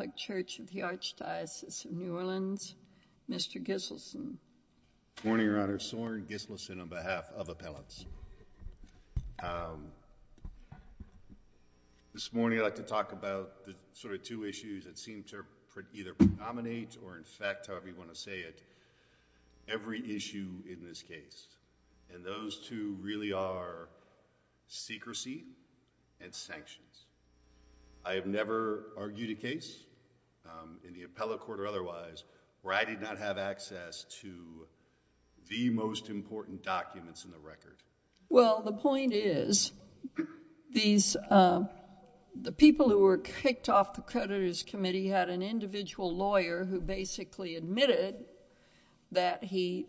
of the Archdiocese of New Orleans, Mr. Giselson. Good morning, Your Honor. Soren Giselson on behalf of appellants. This morning I'd like to talk about the sort of two issues that seem to either predominate or in fact, however you want to say it, every issue in this case. And those two really are secrecy and sanctions. I have never argued a case, in the appellate court or otherwise, where I did not have access to the most important documents in the record. Well, the point is, the people who were kicked off the creditors' committee had an individual lawyer who basically admitted that he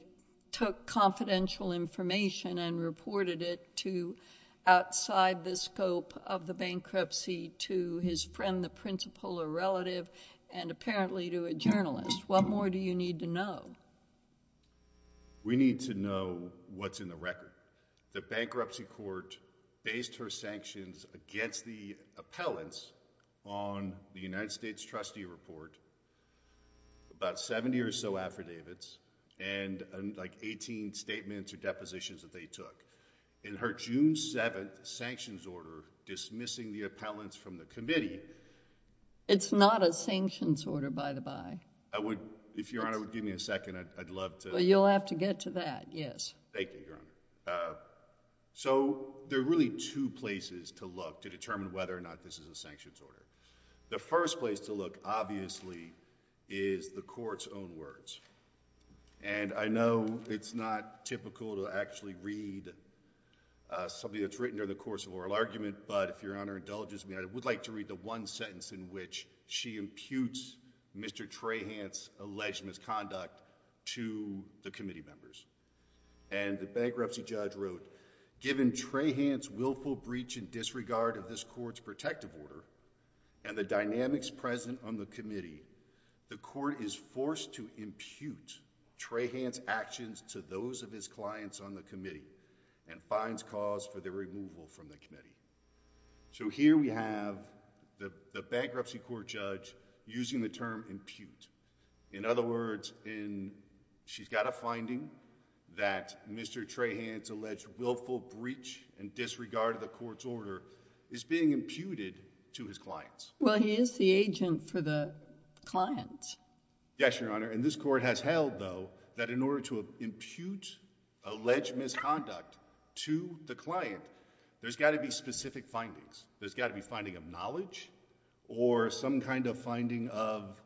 took confidential information and reported it to outside the scope of the bankruptcy to his friend, the principal or relative, and apparently to a journalist. What more do you need to know? We need to know what's in the record. The bankruptcy court based her sanctions against the appellants on the United States trustee report, about 70 or so affidavits, and like 18 statements or depositions that they took. In her June 7th sanctions order dismissing the appellants from the committee... It's not a sanctions order, by the by. If Your Honor would give me a second, I'd love to... You'll have to get to that, yes. Thank you, Your Honor. So, there are really two places to look to determine whether or not this is a sanctions order. The first place to look, obviously, is the court's own words. And I know it's not typical to actually read something that's written during the course of oral argument, but if Your Honor indulges me, I would like to read the one sentence in which she imputes Mr. Trahant's alleged misconduct to the committee members. And the bankruptcy judge wrote, Given Trahant's willful breach and disregard of this court's protective order and the dynamics present on the committee, the court is forced to impute Trahant's actions to those of his clients on the committee and finds cause for their removal from the committee. So, here we have the bankruptcy court judge using the term impute. In other words, she's got a finding that Mr. Trahant's alleged willful breach and disregard of the court's order is being imputed to his clients. Well, he is the agent for the clients. Yes, Your Honor. And this court has held, though, that in order to impute alleged misconduct to the client, there's got to be specific findings. There's got to be finding of knowledge or some kind of finding of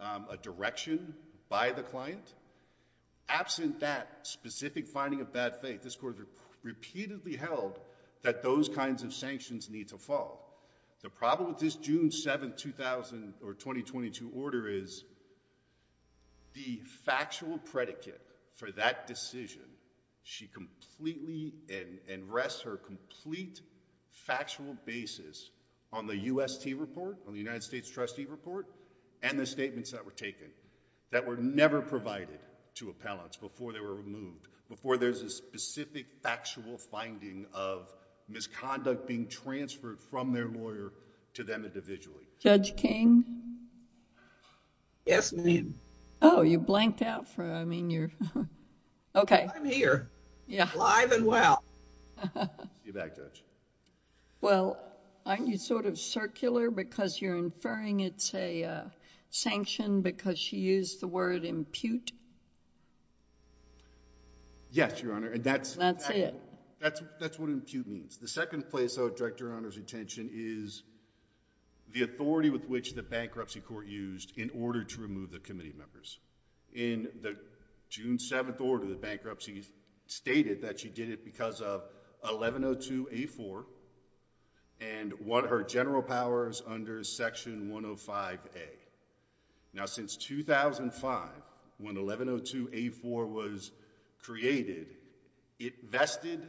a direction by the client. Absent that specific finding of bad faith, this court has repeatedly held that those kinds of sanctions need to fall. The problem with this June 7, 2000 or 2022 order is the factual predicate for that decision, she completely and rests her complete factual basis on the UST report, on the United States trustee report and the statements that were taken that were never provided to appellants before they were removed, before there's a specific factual finding of misconduct being transferred from their lawyer to them individually. Judge King? Yes, ma'am. Oh, you blanked out for... I mean, you're... Okay. I'm here, alive and well. See you back, Judge. Well, aren't you sort of circular because you're inferring it's a sanction because she used the word impute? Yes, Your Honor, and that's... That's it. That's what impute means. The second place I would direct Your Honor's attention is the authority with which the bankruptcy court used in order to remove the committee members. In the June 7th order, the bankruptcy stated that she did it because of 1102A4 and won her general powers under Section 105A. Now, since 2005, when 1102A4 was created, it vested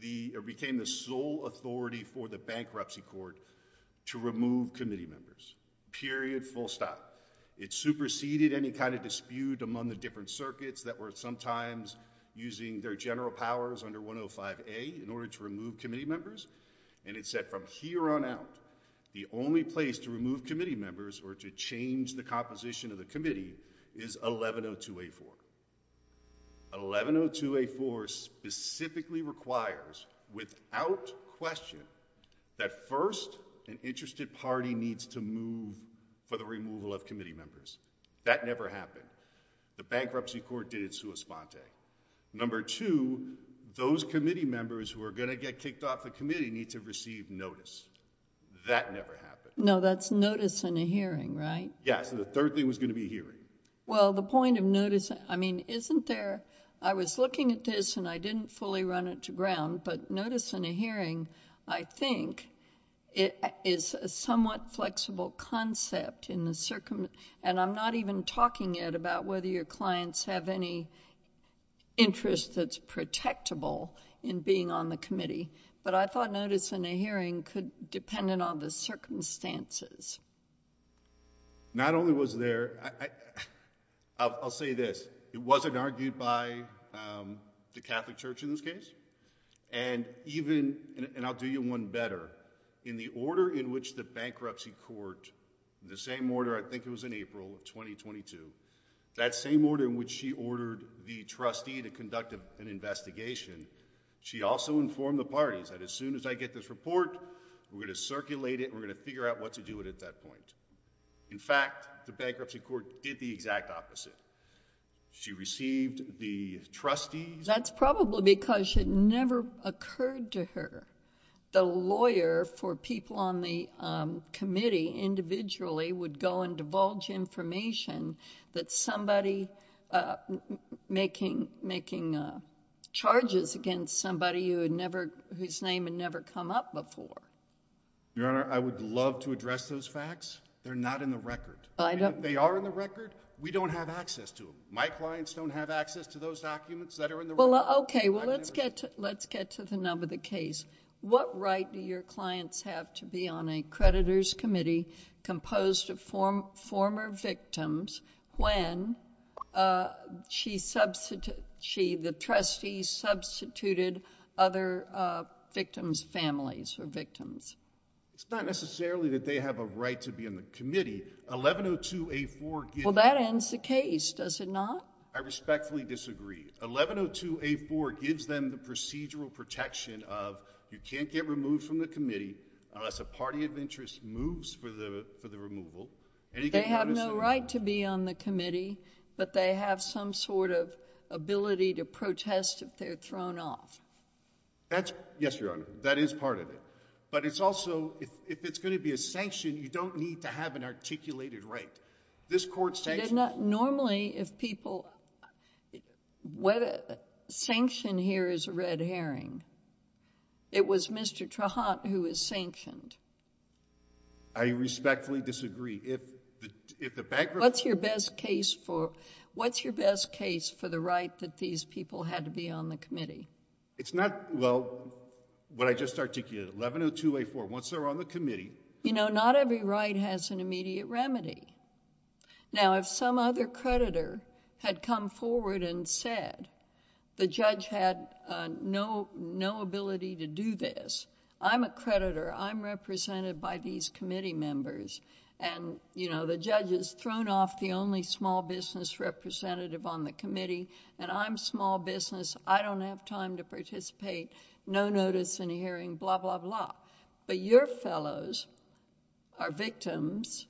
the... it became the sole authority for the bankruptcy court to remove committee members, period, full stop. It superseded any kind of dispute among the different circuits that were sometimes using their general powers under 105A in order to remove committee members, and it said from here on out, the only place to remove committee members or to change the composition of the committee is 1102A4. 1102A4 specifically requires, without question, that first, an interested party needs to move for the removal of committee members. That never happened. The bankruptcy court did it sua sponte. Number two, those committee members who are going to get kicked off the committee need to receive notice. That never happened. No, that's notice and a hearing, right? Yeah, so the third thing was going to be hearing. Well, the point of notice... I mean, isn't there... I was looking at this and I didn't fully run it to ground, but notice and a hearing, I think, is a somewhat flexible concept and I'm not even talking yet about whether your clients have any interest that's protectable in being on the committee, but I thought notice and a hearing could depend on the circumstances. Not only was there... I'll say this. It wasn't argued by the Catholic Church in this case, and even... and I'll do you one better. In the order in which the bankruptcy court, the same order, I think it was in April of 2022, that same order in which she ordered the trustee to conduct an investigation, she also informed the parties that as soon as I get this report, we're going to circulate it and we're going to figure out what to do with it at that point. In fact, the bankruptcy court did the exact opposite. She received the trustees... That's probably because it never occurred to her. The lawyer for people on the committee individually would go and divulge information that somebody making charges against somebody whose name had never come up before. Your Honor, I would love to address those facts. They're not in the record. They are in the record. We don't have access to them. My clients don't have access to those documents that are in the record. Okay. Well, let's get to the nub of the case. What right do your clients have to be on a creditor's committee composed of former victims when the trustees substituted other victims' families or victims? It's not necessarily that they have a right to be on the committee. 1102A4... Well, that ends the case, does it not? I respectfully disagree. 1102A4 gives them the procedural protection of you can't get removed from the committee unless a party of interest moves for the removal. They have no right to be on the committee, but they have some sort of ability to protest if they're thrown off. Yes, Your Honor, that is part of it. But it's also, if it's going to be a sanction, you don't need to have an articulated right. This court sanctioned... Normally, if people... Sanction here is a red herring. It was Mr. Trahant who was sanctioned. I respectfully disagree. If the background... What's your best case for the right that these people had to be on the committee? It's not... Well, what I just articulated, 1102A4, once they're on the committee... You know, not every right has an immediate remedy. Now, if some other creditor had come forward and said, the judge had no ability to do this, I'm a creditor. I'm represented by these committee members. The judge has thrown off the only small business representative on the committee, and I'm small business. I don't have time to participate. No notice in a hearing, blah, blah, blah. But your fellows are victims,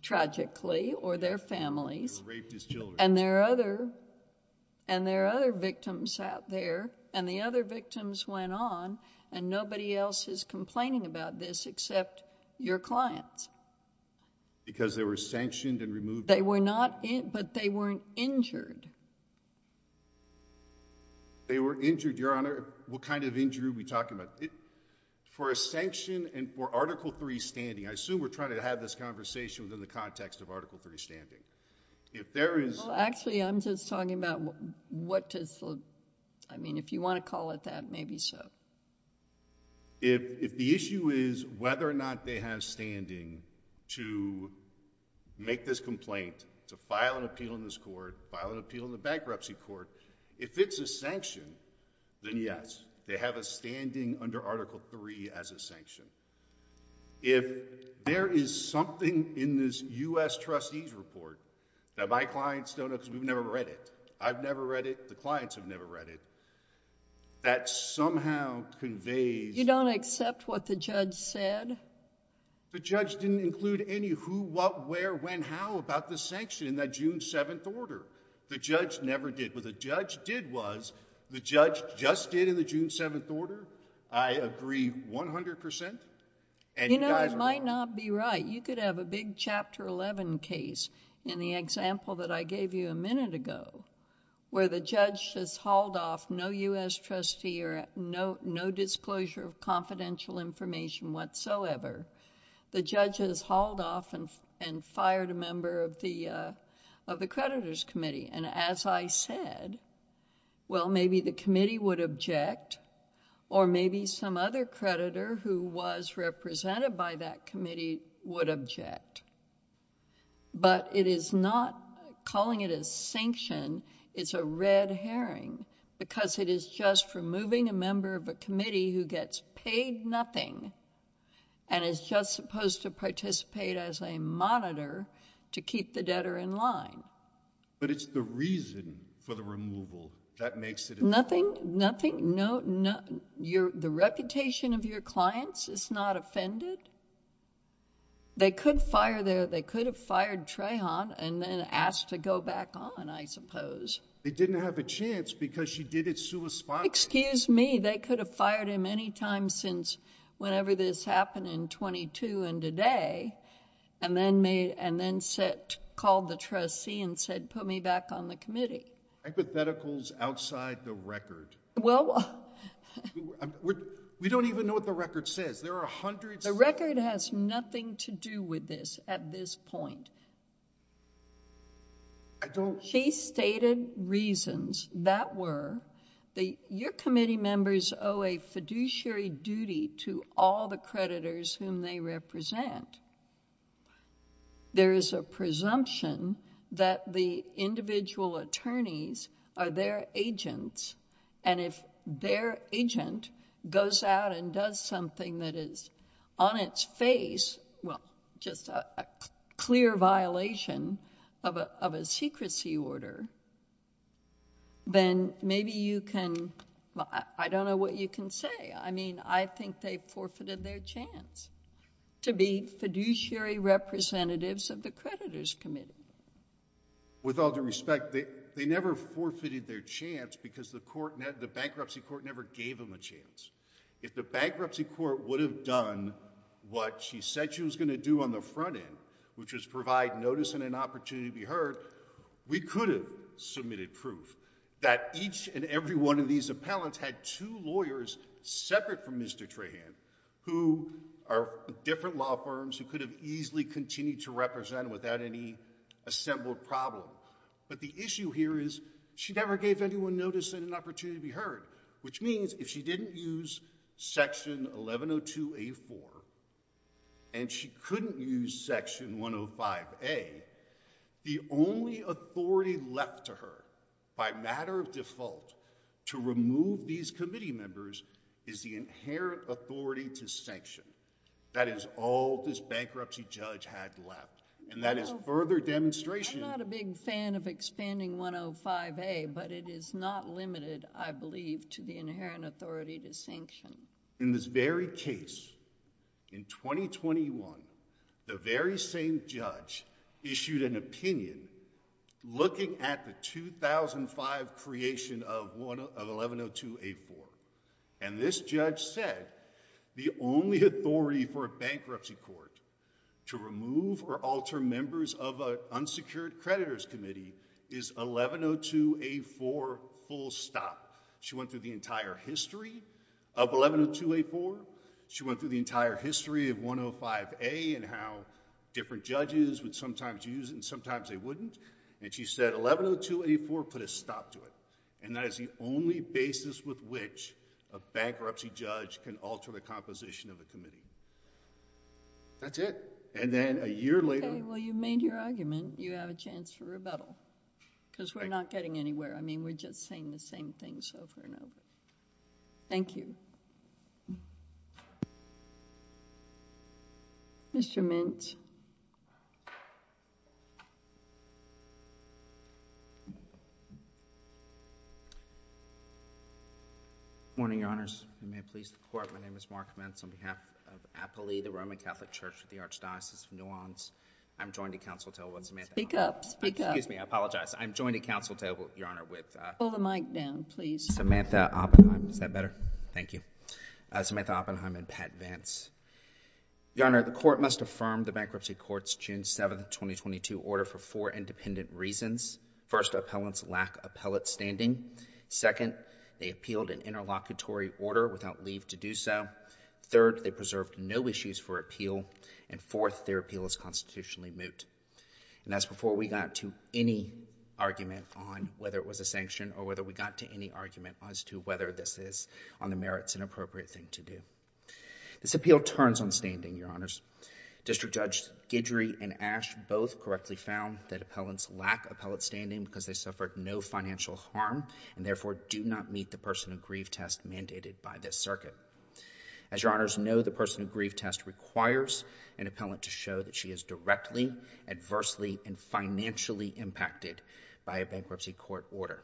tragically, or their families... They were raped as children. And there are other victims out there, and the other victims went on, and nobody else is complaining about this except your clients. Because they were sanctioned and removed... They were not... but they weren't injured. They were injured, Your Honor. What kind of injury are we talking about? For a sanction and for Article III standing, I assume we're trying to have this conversation within the context of Article III standing. If there is... Well, actually, I'm just talking about what does the... I mean, if you want to call it that, maybe so. If the issue is whether or not they have standing to make this complaint, to file an appeal in this court, file an appeal in the bankruptcy court, if it's a sanction, then yes. They have a standing under Article III as a sanction. If there is something in this U.S. Trustee's Report that my clients don't... Because we've never read it. I've never read it. The clients have never read it. That somehow conveys... You don't accept what the judge said? The judge didn't include any who, what, where, when, how about the sanction in that June 7th order. The judge never did. What the judge did was, the judge just did in the June 7th order. I agree 100%. You know, it might not be right. You could have a big Chapter 11 case in the example that I gave you a minute ago where the judge has hauled off no U.S. Trustee or no disclosure of confidential information whatsoever. The judge has hauled off and fired a member of the creditor's committee. And as I said, well, maybe the committee would object or maybe some other creditor who was represented by that committee would object. But it is not calling it a sanction. It's a red herring because it is just removing a member of a committee who gets paid nothing and is just supposed to participate as a monitor to keep the debtor in line. But it's the reason for the removal that makes it... Nothing... The reputation of your clients is not offended. They could fire their... They could have fired Trahan and then asked to go back on, I suppose. They didn't have a chance because she did it sui spati. Excuse me. They could have fired him any time since whenever this happened in 22 and today and then called the trustee and said, put me back on the committee. Hypotheticals outside the record. Well... We don't even know what the record says. There are hundreds... The record has nothing to do with this at this point. I don't... She stated reasons that were your committee members owe a fiduciary duty to all the creditors whom they represent. There is a presumption that the individual attorneys are their agents and if their agent goes out and does something that is on its face, well, just a clear violation of a secrecy order, then maybe you can... I don't know what you can say. I mean, I think they forfeited their chance to be fiduciary representatives of the creditors' committee. With all due respect, they never forfeited their chance because the bankruptcy court never gave them a chance. If the bankruptcy court would have done what she said she was going to do on the front end, which was provide notice and an opportunity to be heard, we could have submitted proof that each and every one of these appellants had two lawyers separate from Mr. Trahan who are different law firms who could have easily continued to represent without any assembled problem. But the issue here is she never gave anyone notice and an opportunity to be heard, which means if she didn't use Section 1102A4 and she couldn't use Section 105A, the only authority left to her by matter of default to remove these committee members is the inherent authority to sanction. That is all this bankruptcy judge had left, and that is further demonstration... I'm not a big fan of expanding 105A, but it is not limited, I believe, to the inherent authority to sanction. In this very case, in 2021, the very same judge issued an opinion looking at the 2005 creation of 1102A4, and this judge said the only authority for a bankruptcy court to remove or alter members of an unsecured creditors committee is 1102A4 full stop. She went through the entire history of 1102A4. She went through the entire history of 105A and how different judges would sometimes use it and sometimes they wouldn't. She said 1102A4 put a stop to it, and that is the only basis with which a bankruptcy judge can alter the composition of a committee. That's it. Then a year later... Well, you've made your argument. You have a chance for rebuttal because we're not getting anywhere. I mean, we're just saying the same things over and over. Thank you. Mr. Mintz. Good morning, Your Honors. You may please report. My name is Mark Mintz on behalf of Apolli, the Roman Catholic Church of the Archdiocese of New Orleans. I'm joined at counsel table with Samantha... Speak up. Speak up. Excuse me. I apologize. I'm joined at counsel table, Your Honor, with... Pull the mic down, please. Samantha Oppenheim. Is that better? Thank you. Samantha Oppenheim and Pat Vance. Your Honor, the court must affirm the bankruptcy court's June 7, 2022, order for four independent reasons. First, appellants lack appellate standing. Second, they appealed an interlocutory order without leave to do so. Third, they preserved no issues for appeal. And fourth, their appeal is constitutionally moot. And that's before we got to any argument on whether it was a sanction or whether we got to any argument as to whether this is, on the merits, an appropriate thing to do. This appeal turns on standing, Your Honors. District Judge Guidry and Ash both correctly found that appellants lack appellate standing because they suffered no financial harm and, therefore, do not meet the person of grief test mandated by this circuit. As Your Honors know, the person of grief test requires an appellant to show that she is directly, adversely, and financially impacted by a bankruptcy court order.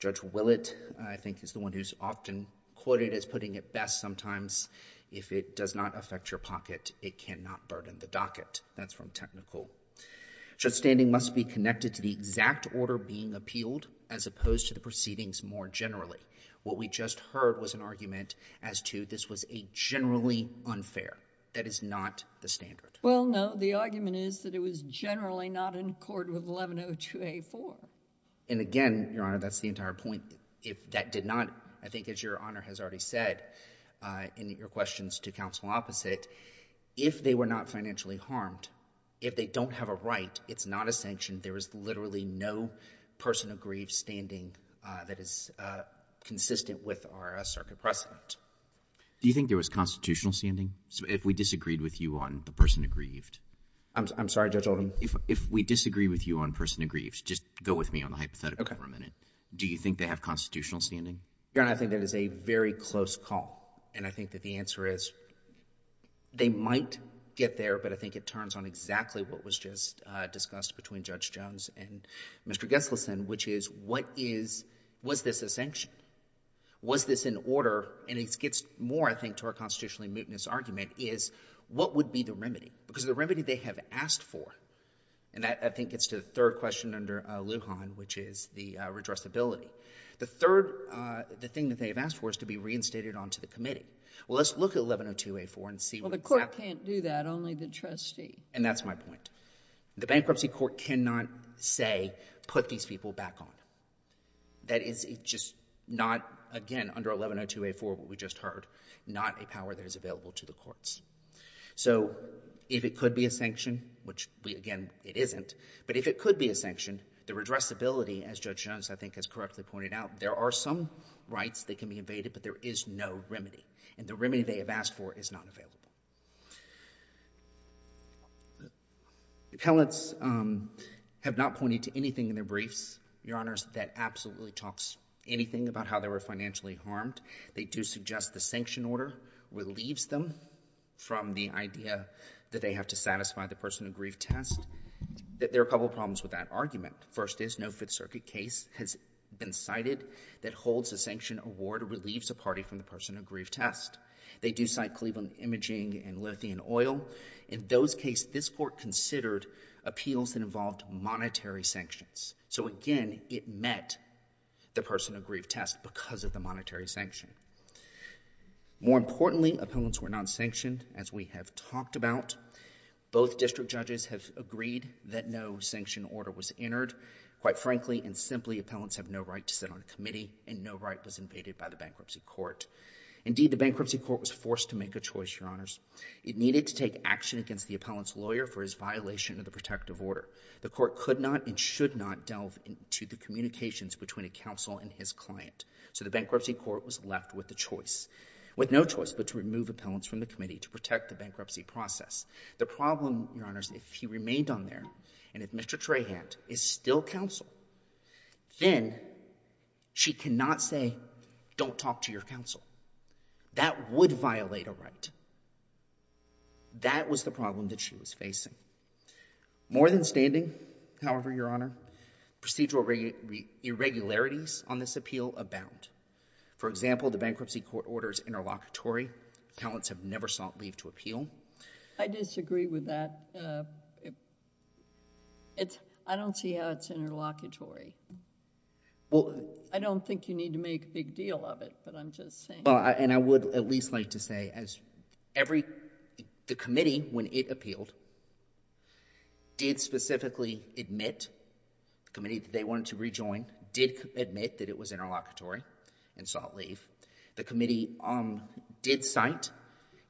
Judge Willett, I think, is the one who's often quoted as putting it best sometimes, if it does not affect your pocket, it cannot burden the docket. That's from technical. Judge Standing must be connected to the exact order being appealed as opposed to the proceedings more generally. What we just heard was an argument as to this was a generally unfair. That is not the standard. Well, no. The argument is that it was generally not in accord with 1102A4. And, again, Your Honor, that's the entire point. That did not, I think as Your Honor has already said in your questions to counsel opposite, if they were not financially harmed, if they don't have a right, it's not a sanction. There is literally no person of grief standing that is consistent with our circuit precedent. Do you think there was constitutional standing? If we disagreed with you on the person of grief. I'm sorry, Judge Oldham. If we disagree with you on person of grief, just go with me on the hypothetical for a minute. Do you think they have constitutional standing? Your Honor, I think that is a very close call. And I think that the answer is they might get there, but I think it turns on exactly what was just discussed between Judge Jones and Mr. Gesselson, which is what is – was this a sanction? Was this an order? And it gets more, I think, to our constitutionally mootness argument is what would be the remedy? Because the remedy they have asked for, and that I think gets to the third question under Lujan, which is the redressability. The third – the thing that they have asked for is to be reinstated onto the committee. Well, let's look at 1102A4 and see what exactly – Well, the court can't do that, only the trustee. And that's my point. The bankruptcy court cannot say put these people back on. That is just not, again, under 1102A4 what we just heard, not a power that is available to the courts. So if it could be a sanction, which, again, it isn't, but if it could be a sanction, the redressability, as Judge Jones I think has correctly pointed out, there are some rights that can be evaded, but there is no remedy. And the remedy they have asked for is not available. Appellants have not pointed to anything in their briefs, Your Honors, that absolutely talks anything about how they were financially harmed. They do suggest the sanction order relieves them from the idea that they have to satisfy the person of grief test. There are a couple problems with that argument. First is no Fifth Circuit case has been cited that holds a sanction award relieves a party from the person of grief test. They do cite Cleveland Imaging and Lithium Oil. In those cases, this court considered appeals that involved monetary sanctions. So, again, it met the person of grief test because of the monetary sanction. More importantly, appellants were not sanctioned, as we have talked about. Both district judges have agreed that no sanction order was entered. Quite frankly and simply, appellants have no right to sit on a committee and no right was evaded by the bankruptcy court. Indeed, the bankruptcy court was forced to make a choice, Your Honors. It needed to take action against the appellant's lawyer for his violation of the protective order. The court could not and should not delve into the communications between a counsel and his client. So the bankruptcy court was left with no choice but to remove appellants from the committee to protect the bankruptcy process. The problem, Your Honors, if he remained on there and if Mr. Trahant is still counsel, then she cannot say, don't talk to your counsel. That would violate a right. That was the problem that she was facing. More than standing, however, Your Honor, procedural irregularities on this appeal abound. For example, the bankruptcy court orders interlocutory. Appellants have never sought leave to appeal. I disagree with that. I don't see how it's interlocutory. I don't think you need to make a big deal of it, but I'm just saying. I would at least like to say the committee, when it appealed, did specifically admit, the committee that they wanted to rejoin, did admit that it was interlocutory and sought leave. The committee did cite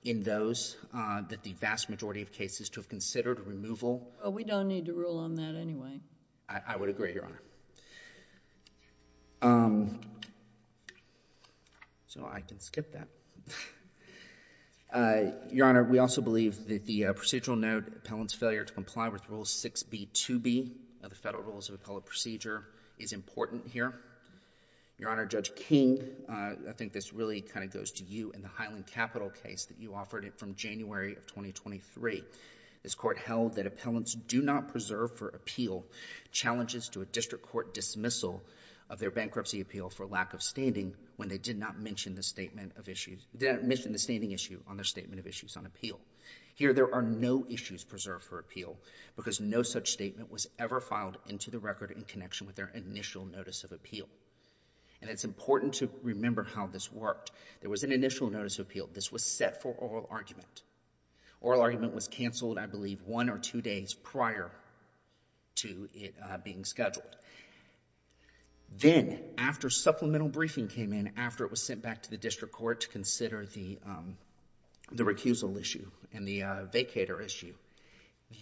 in those that the vast majority of cases to have considered removal. We don't need to rule on that anyway. I would agree, Your Honor. So I can skip that. Your Honor, we also believe that the procedural note, appellant's failure to comply with Rule 6b-2b of the Federal Rules of Appellant Procedure, is important here. Your Honor, Judge King, I think this really kind of goes to you and the Highland Capital case that you offered from January of 2023. This court held that appellants do not preserve for appeal challenges to a district court dismissal of their bankruptcy appeal for lack of standing when they did not mention the statement of issues, did not mention the standing issue on their statement of issues on appeal. Here, there are no issues preserved for appeal because no such statement was ever filed into the record in connection with their initial notice of appeal. And it's important to remember how this worked. There was an initial notice of appeal. This was set for oral argument. Oral argument was canceled, I believe, one or two days prior to it being scheduled. Then, after supplemental briefing came in, after it was sent back to the district court to consider the recusal issue and the vacator issue,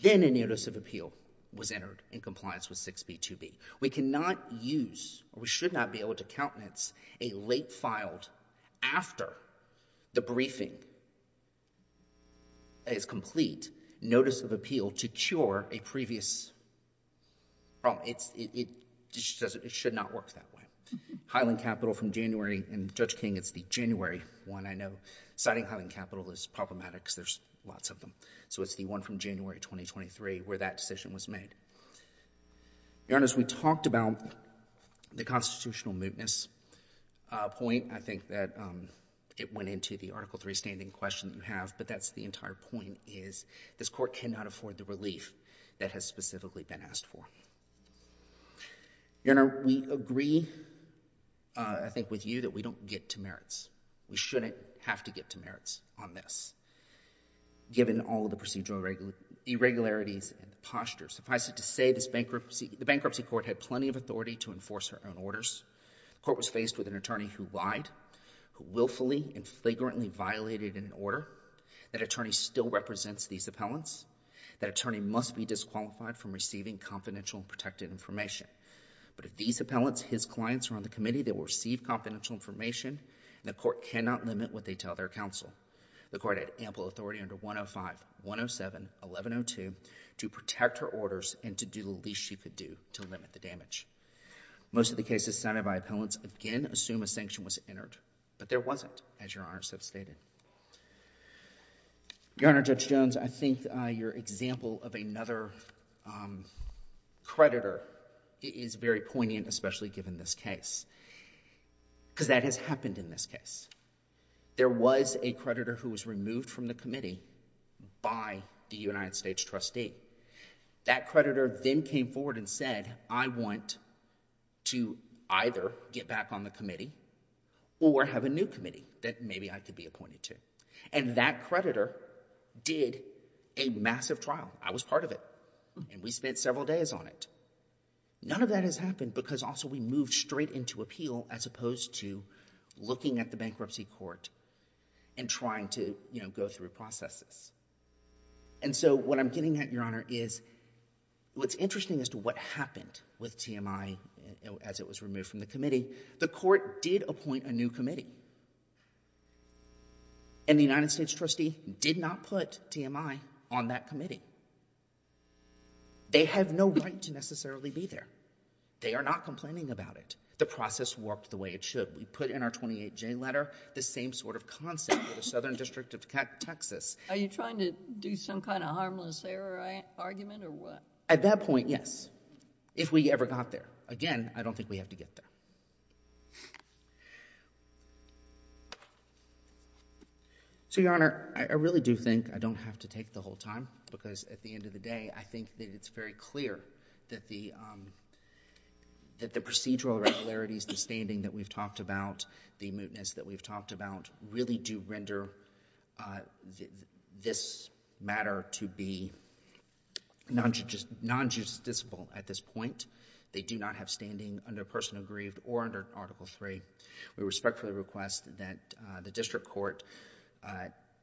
then a notice of appeal was entered in compliance with 6b-2b. We cannot use or we should not be able to countenance a late filed after the briefing is complete notice of appeal to cure a previous problem. It should not work that way. Highland Capital from January, and Judge King, it's the January one I know. Citing Highland Capital is problematic because there's lots of them. So it's the one from January 2023 where that decision was made. Your Honor, as we talked about the constitutional mootness point, I think that it went into the Article III standing question that you have. But that's the entire point is this court cannot afford the relief that has specifically been asked for. Your Honor, we agree, I think, with you that we don't get to merits. We shouldn't have to get to merits on this. Given all of the procedural irregularities and postures, suffice it to say the bankruptcy court had plenty of authority to enforce her own orders. The court was faced with an attorney who lied, who willfully and flagrantly violated an order. That attorney still represents these appellants. That attorney must be disqualified from receiving confidential and protected information. But if these appellants, his clients, are on the committee, they will receive confidential information, and the court cannot limit what they tell their counsel. The court had ample authority under 105, 107, 1102 to protect her orders and to do the least she could do to limit the damage. Most of the cases cited by appellants, again, assume a sanction was entered. But there wasn't, as Your Honor so stated. Your Honor, Judge Jones, I think your example of another creditor is very poignant, especially given this case. Because that has happened in this case. There was a creditor who was removed from the committee by the United States trustee. That creditor then came forward and said, I want to either get back on the committee or have a new committee that maybe I could be appointed to. And that creditor did a massive trial. I was part of it. And we spent several days on it. None of that has happened because also we moved straight into appeal as opposed to looking at the bankruptcy court and trying to go through processes. And so what I'm getting at, Your Honor, is what's interesting as to what happened with TMI as it was removed from the committee, the court did appoint a new committee. And the United States trustee did not put TMI on that committee. They have no right to necessarily be there. They are not complaining about it. The process worked the way it should. We put in our 28J letter the same sort of concept for the Southern District of Texas. Are you trying to do some kind of harmless error argument or what? At that point, yes. If we ever got there. Again, I don't think we have to get there. So, Your Honor, I really do think I don't have to take the whole time because at the end of the day, I think that it's very clear that the procedural regularities, the standing that we've talked about, the mootness that we've talked about really do render this matter to be non-justiciable at this point. They do not have standing under personal grief or under Article III. We respectfully request that the district court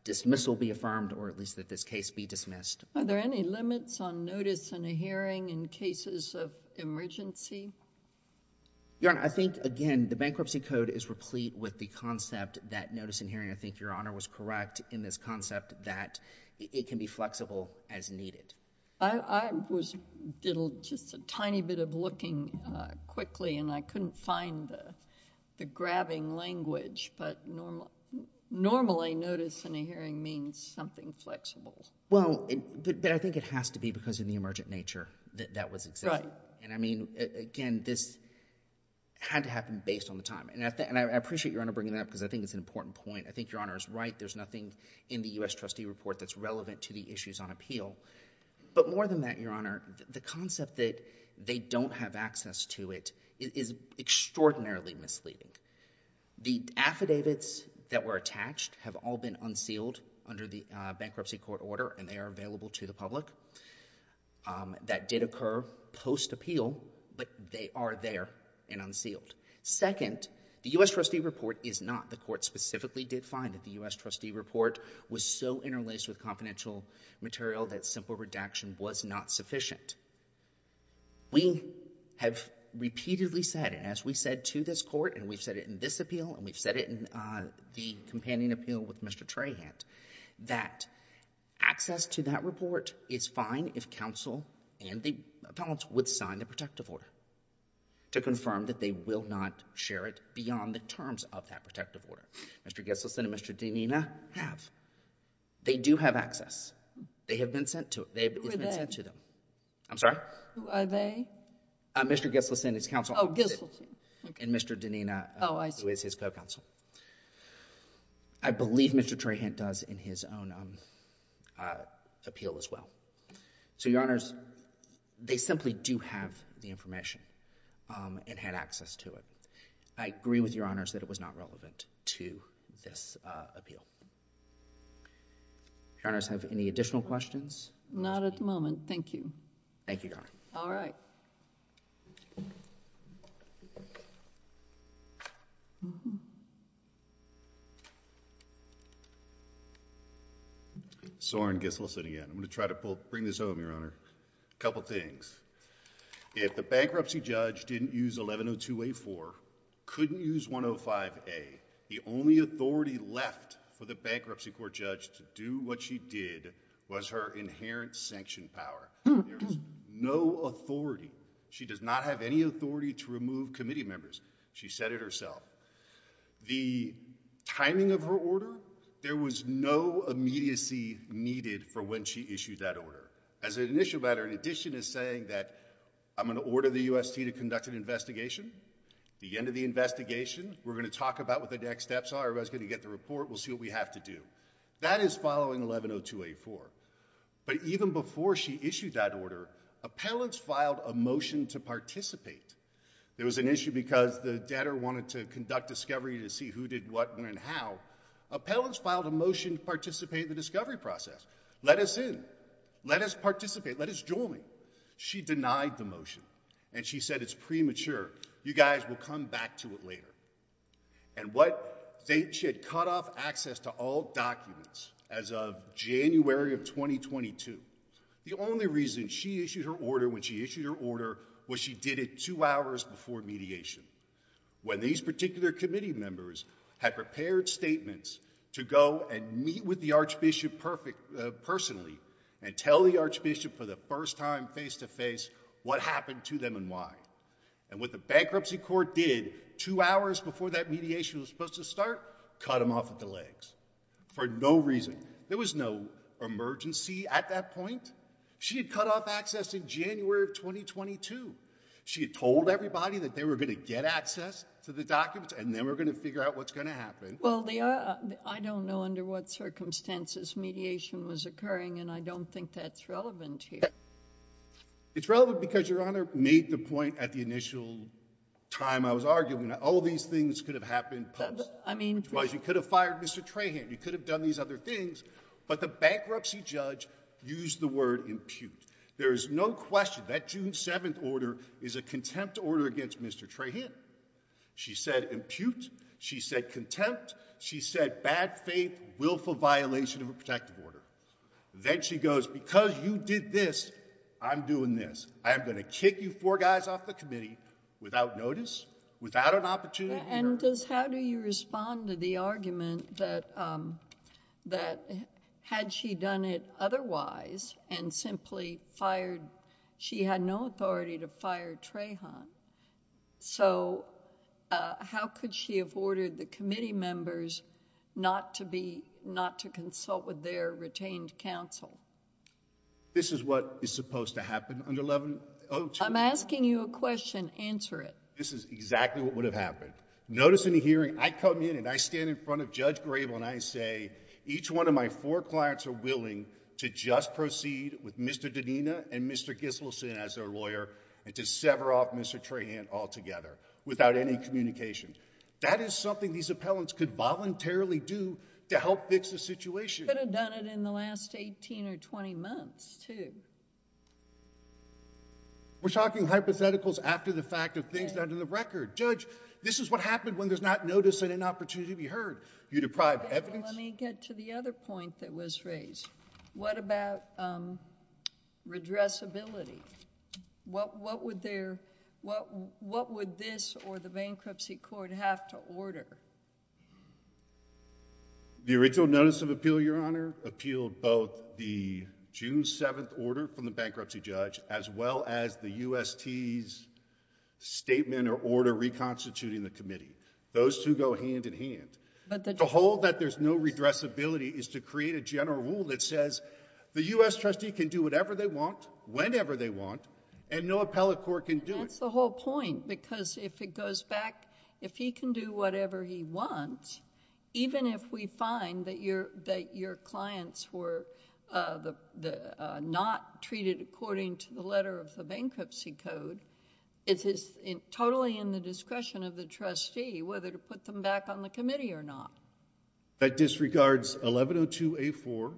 dismissal be affirmed or at least that this case be dismissed. Are there any limits on notice in a hearing in cases of emergency? Your Honor, I think, again, the bankruptcy code is replete with the concept that notice in hearing, I think Your Honor was correct in this concept that it can be flexible as needed. I was just a tiny bit of looking quickly and I couldn't find the grabbing language, but normally notice in a hearing means something flexible. Well, but I think it has to be because of the emergent nature that that was existing. Right. And I mean, again, this had to happen based on the time. And I appreciate Your Honor bringing that up because I think it's an important point. I think Your Honor is right. There's nothing in the U.S. trustee report that's relevant to the issues on appeal. But more than that, Your Honor, the concept that they don't have access to it is extraordinarily misleading. The affidavits that were attached have all been unsealed under the bankruptcy court order and they are available to the public. That did occur post-appeal, but they are there and unsealed. Second, the U.S. trustee report is not. The court specifically did find that the U.S. trustee report was so interlaced with confidential material that simple redaction was not sufficient. We have repeatedly said, and as we've said to this court, and we've said it in this appeal, and we've said it in the companion appeal with Mr. Trahant, that access to that report is fine if counsel and the appellants would sign the protective order to confirm that they will not share it beyond the terms of that protective order. Mr. Gesselson and Mr. Denina have. They do have access. They have been sent to it. They have been sent to them. Who are they? I'm sorry? Who are they? Mr. Gesselson and his counsel. Oh, Gesselson. And Mr. Denina, who is his co-counsel. Oh, I see. I believe Mr. Trahant does in his own appeal as well. So, Your Honors, they simply do have the information and had access to it. I agree with Your Honors that it was not relevant to this appeal. Your Honors, have any additional questions? Not at the moment. Thank you. Thank you, Your Honor. All right. Soren Gesselson again. I'm going to try to bring this home, Your Honor. A couple things. If the bankruptcy judge didn't use 1102A4, couldn't use 105A, the only authority left for the bankruptcy court judge to do what she did was her inherent sanction power. There was no authority. She does not have any authority to remove committee members. She said it herself. The timing of her order, there was no immediacy needed for when she issued that order. As an initial matter, in addition to saying that I'm going to order the UST to conduct an investigation, the end of the investigation, we're going to talk about what the next steps are. Everybody's going to get the report. We'll see what we have to do. That is following 1102A4. But even before she issued that order, appellants filed a motion to participate. There was an issue because the debtor wanted to conduct discovery to see who did what and when and how. Appellants filed a motion to participate in the discovery process. Let us in. Let us participate. Let us join. She denied the motion, and she said it's premature. You guys will come back to it later. She had cut off access to all documents as of January of 2022. The only reason she issued her order when she issued her order was she did it two hours before mediation. When these particular committee members had prepared statements to go and meet with the Archbishop personally and tell the Archbishop for the first time face-to-face what happened to them and why. And what the bankruptcy court did two hours before that mediation was supposed to start, cut them off at the legs for no reason. There was no emergency at that point. She had cut off access in January of 2022. She had told everybody that they were going to get access to the documents and then we're going to figure out what's going to happen. Well, I don't know under what circumstances mediation was occurring, and I don't think that's relevant here. It's relevant because Your Honor made the point at the initial time I was arguing that all these things could have happened post. You could have fired Mr. Trahan. You could have done these other things, but the bankruptcy judge used the word impute. There is no question that June 7th order is a contempt order against Mr. Trahan. She said impute. She said contempt. She said bad faith, willful violation of a protective order. Then she goes, because you did this, I'm doing this. I am going to kick you four guys off the committee without notice, without an opportunity. And how do you respond to the argument that had she done it otherwise and simply fired, she had no authority to fire Trahan, so how could she have obtained counsel? This is what is supposed to happen under 1102. I'm asking you a question. Answer it. This is exactly what would have happened. Notice in the hearing, I come in and I stand in front of Judge Grable and I say, each one of my four clients are willing to just proceed with Mr. Danina and Mr. Giselson as their lawyer and to sever off Mr. Trahan altogether without any communication. That is something these appellants could voluntarily do to help fix the situation. I should have done it in the last eighteen or twenty months too. We're talking hypotheticals after the fact of things that are under the record. Judge, this is what happened when there's not notice and an opportunity to be heard. You deprive evidence. Let me get to the other point that was raised. What about redressability? What would this or the bankruptcy court have to order? The original notice of appeal, Your Honor, appealed both the June 7th order from the bankruptcy judge as well as the UST's statement or order reconstituting the committee. Those two go hand in hand. To hold that there's no redressability is to create a general rule that says the US trustee can do whatever they want, whenever they want, and no appellate court can do it. That's the whole point because if it goes back, if he can do whatever he wants, even if we find that your clients were not treated according to the letter of the bankruptcy code, it's totally in the discretion of the trustee whether to put them back on the committee or not. That disregards 1102A4.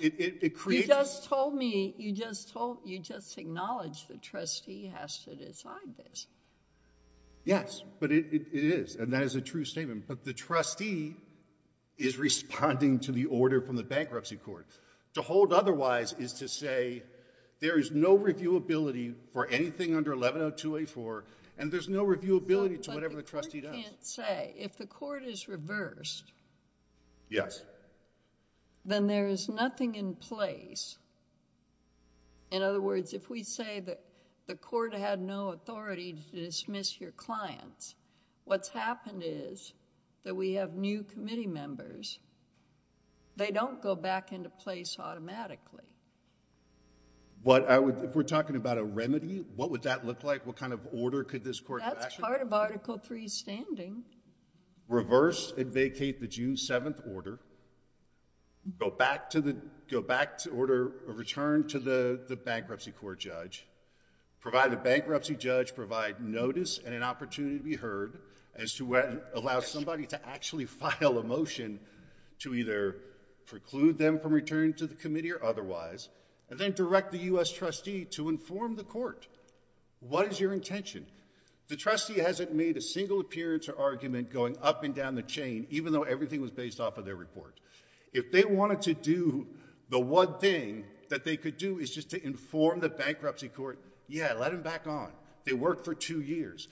It creates... You just told me, you just acknowledged the trustee has to decide this. Yes, but it is and that is a true statement, but the trustee is responding to the order from the bankruptcy court. To hold otherwise is to say there is no reviewability for anything under 1102A4 and there's no reviewability to whatever the trustee does. But the court can't say. If the court is reversed... Yes.... then there is nothing in place. In other words, if we say that the court had no authority to dismiss your clients, what's happened is that we have new committee members. They don't go back into place automatically. If we're talking about a remedy, what would that look like? What kind of order could this court... That's part of Article III's standing. Reverse and vacate the June 7th order. Go back to order a return to the bankruptcy court judge. Provide the bankruptcy judge, provide notice and an opportunity to be heard as to allow somebody to actually file a motion to either preclude them from returning to the committee or otherwise, and then direct the U.S. trustee to inform the court. What is your intention? The trustee hasn't made a single appearance or argument going up and down the chain, even though everything was based off of their report. If they wanted to do the one thing that they could do is just to inform the bankruptcy court, yeah, let them back on. They worked for two years.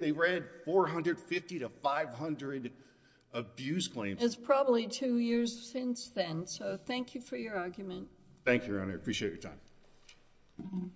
They ran 450 to 500 abuse claims. It's probably two years since then, so thank you for your argument. Thank you, Your Honor. I appreciate your time. Thank you.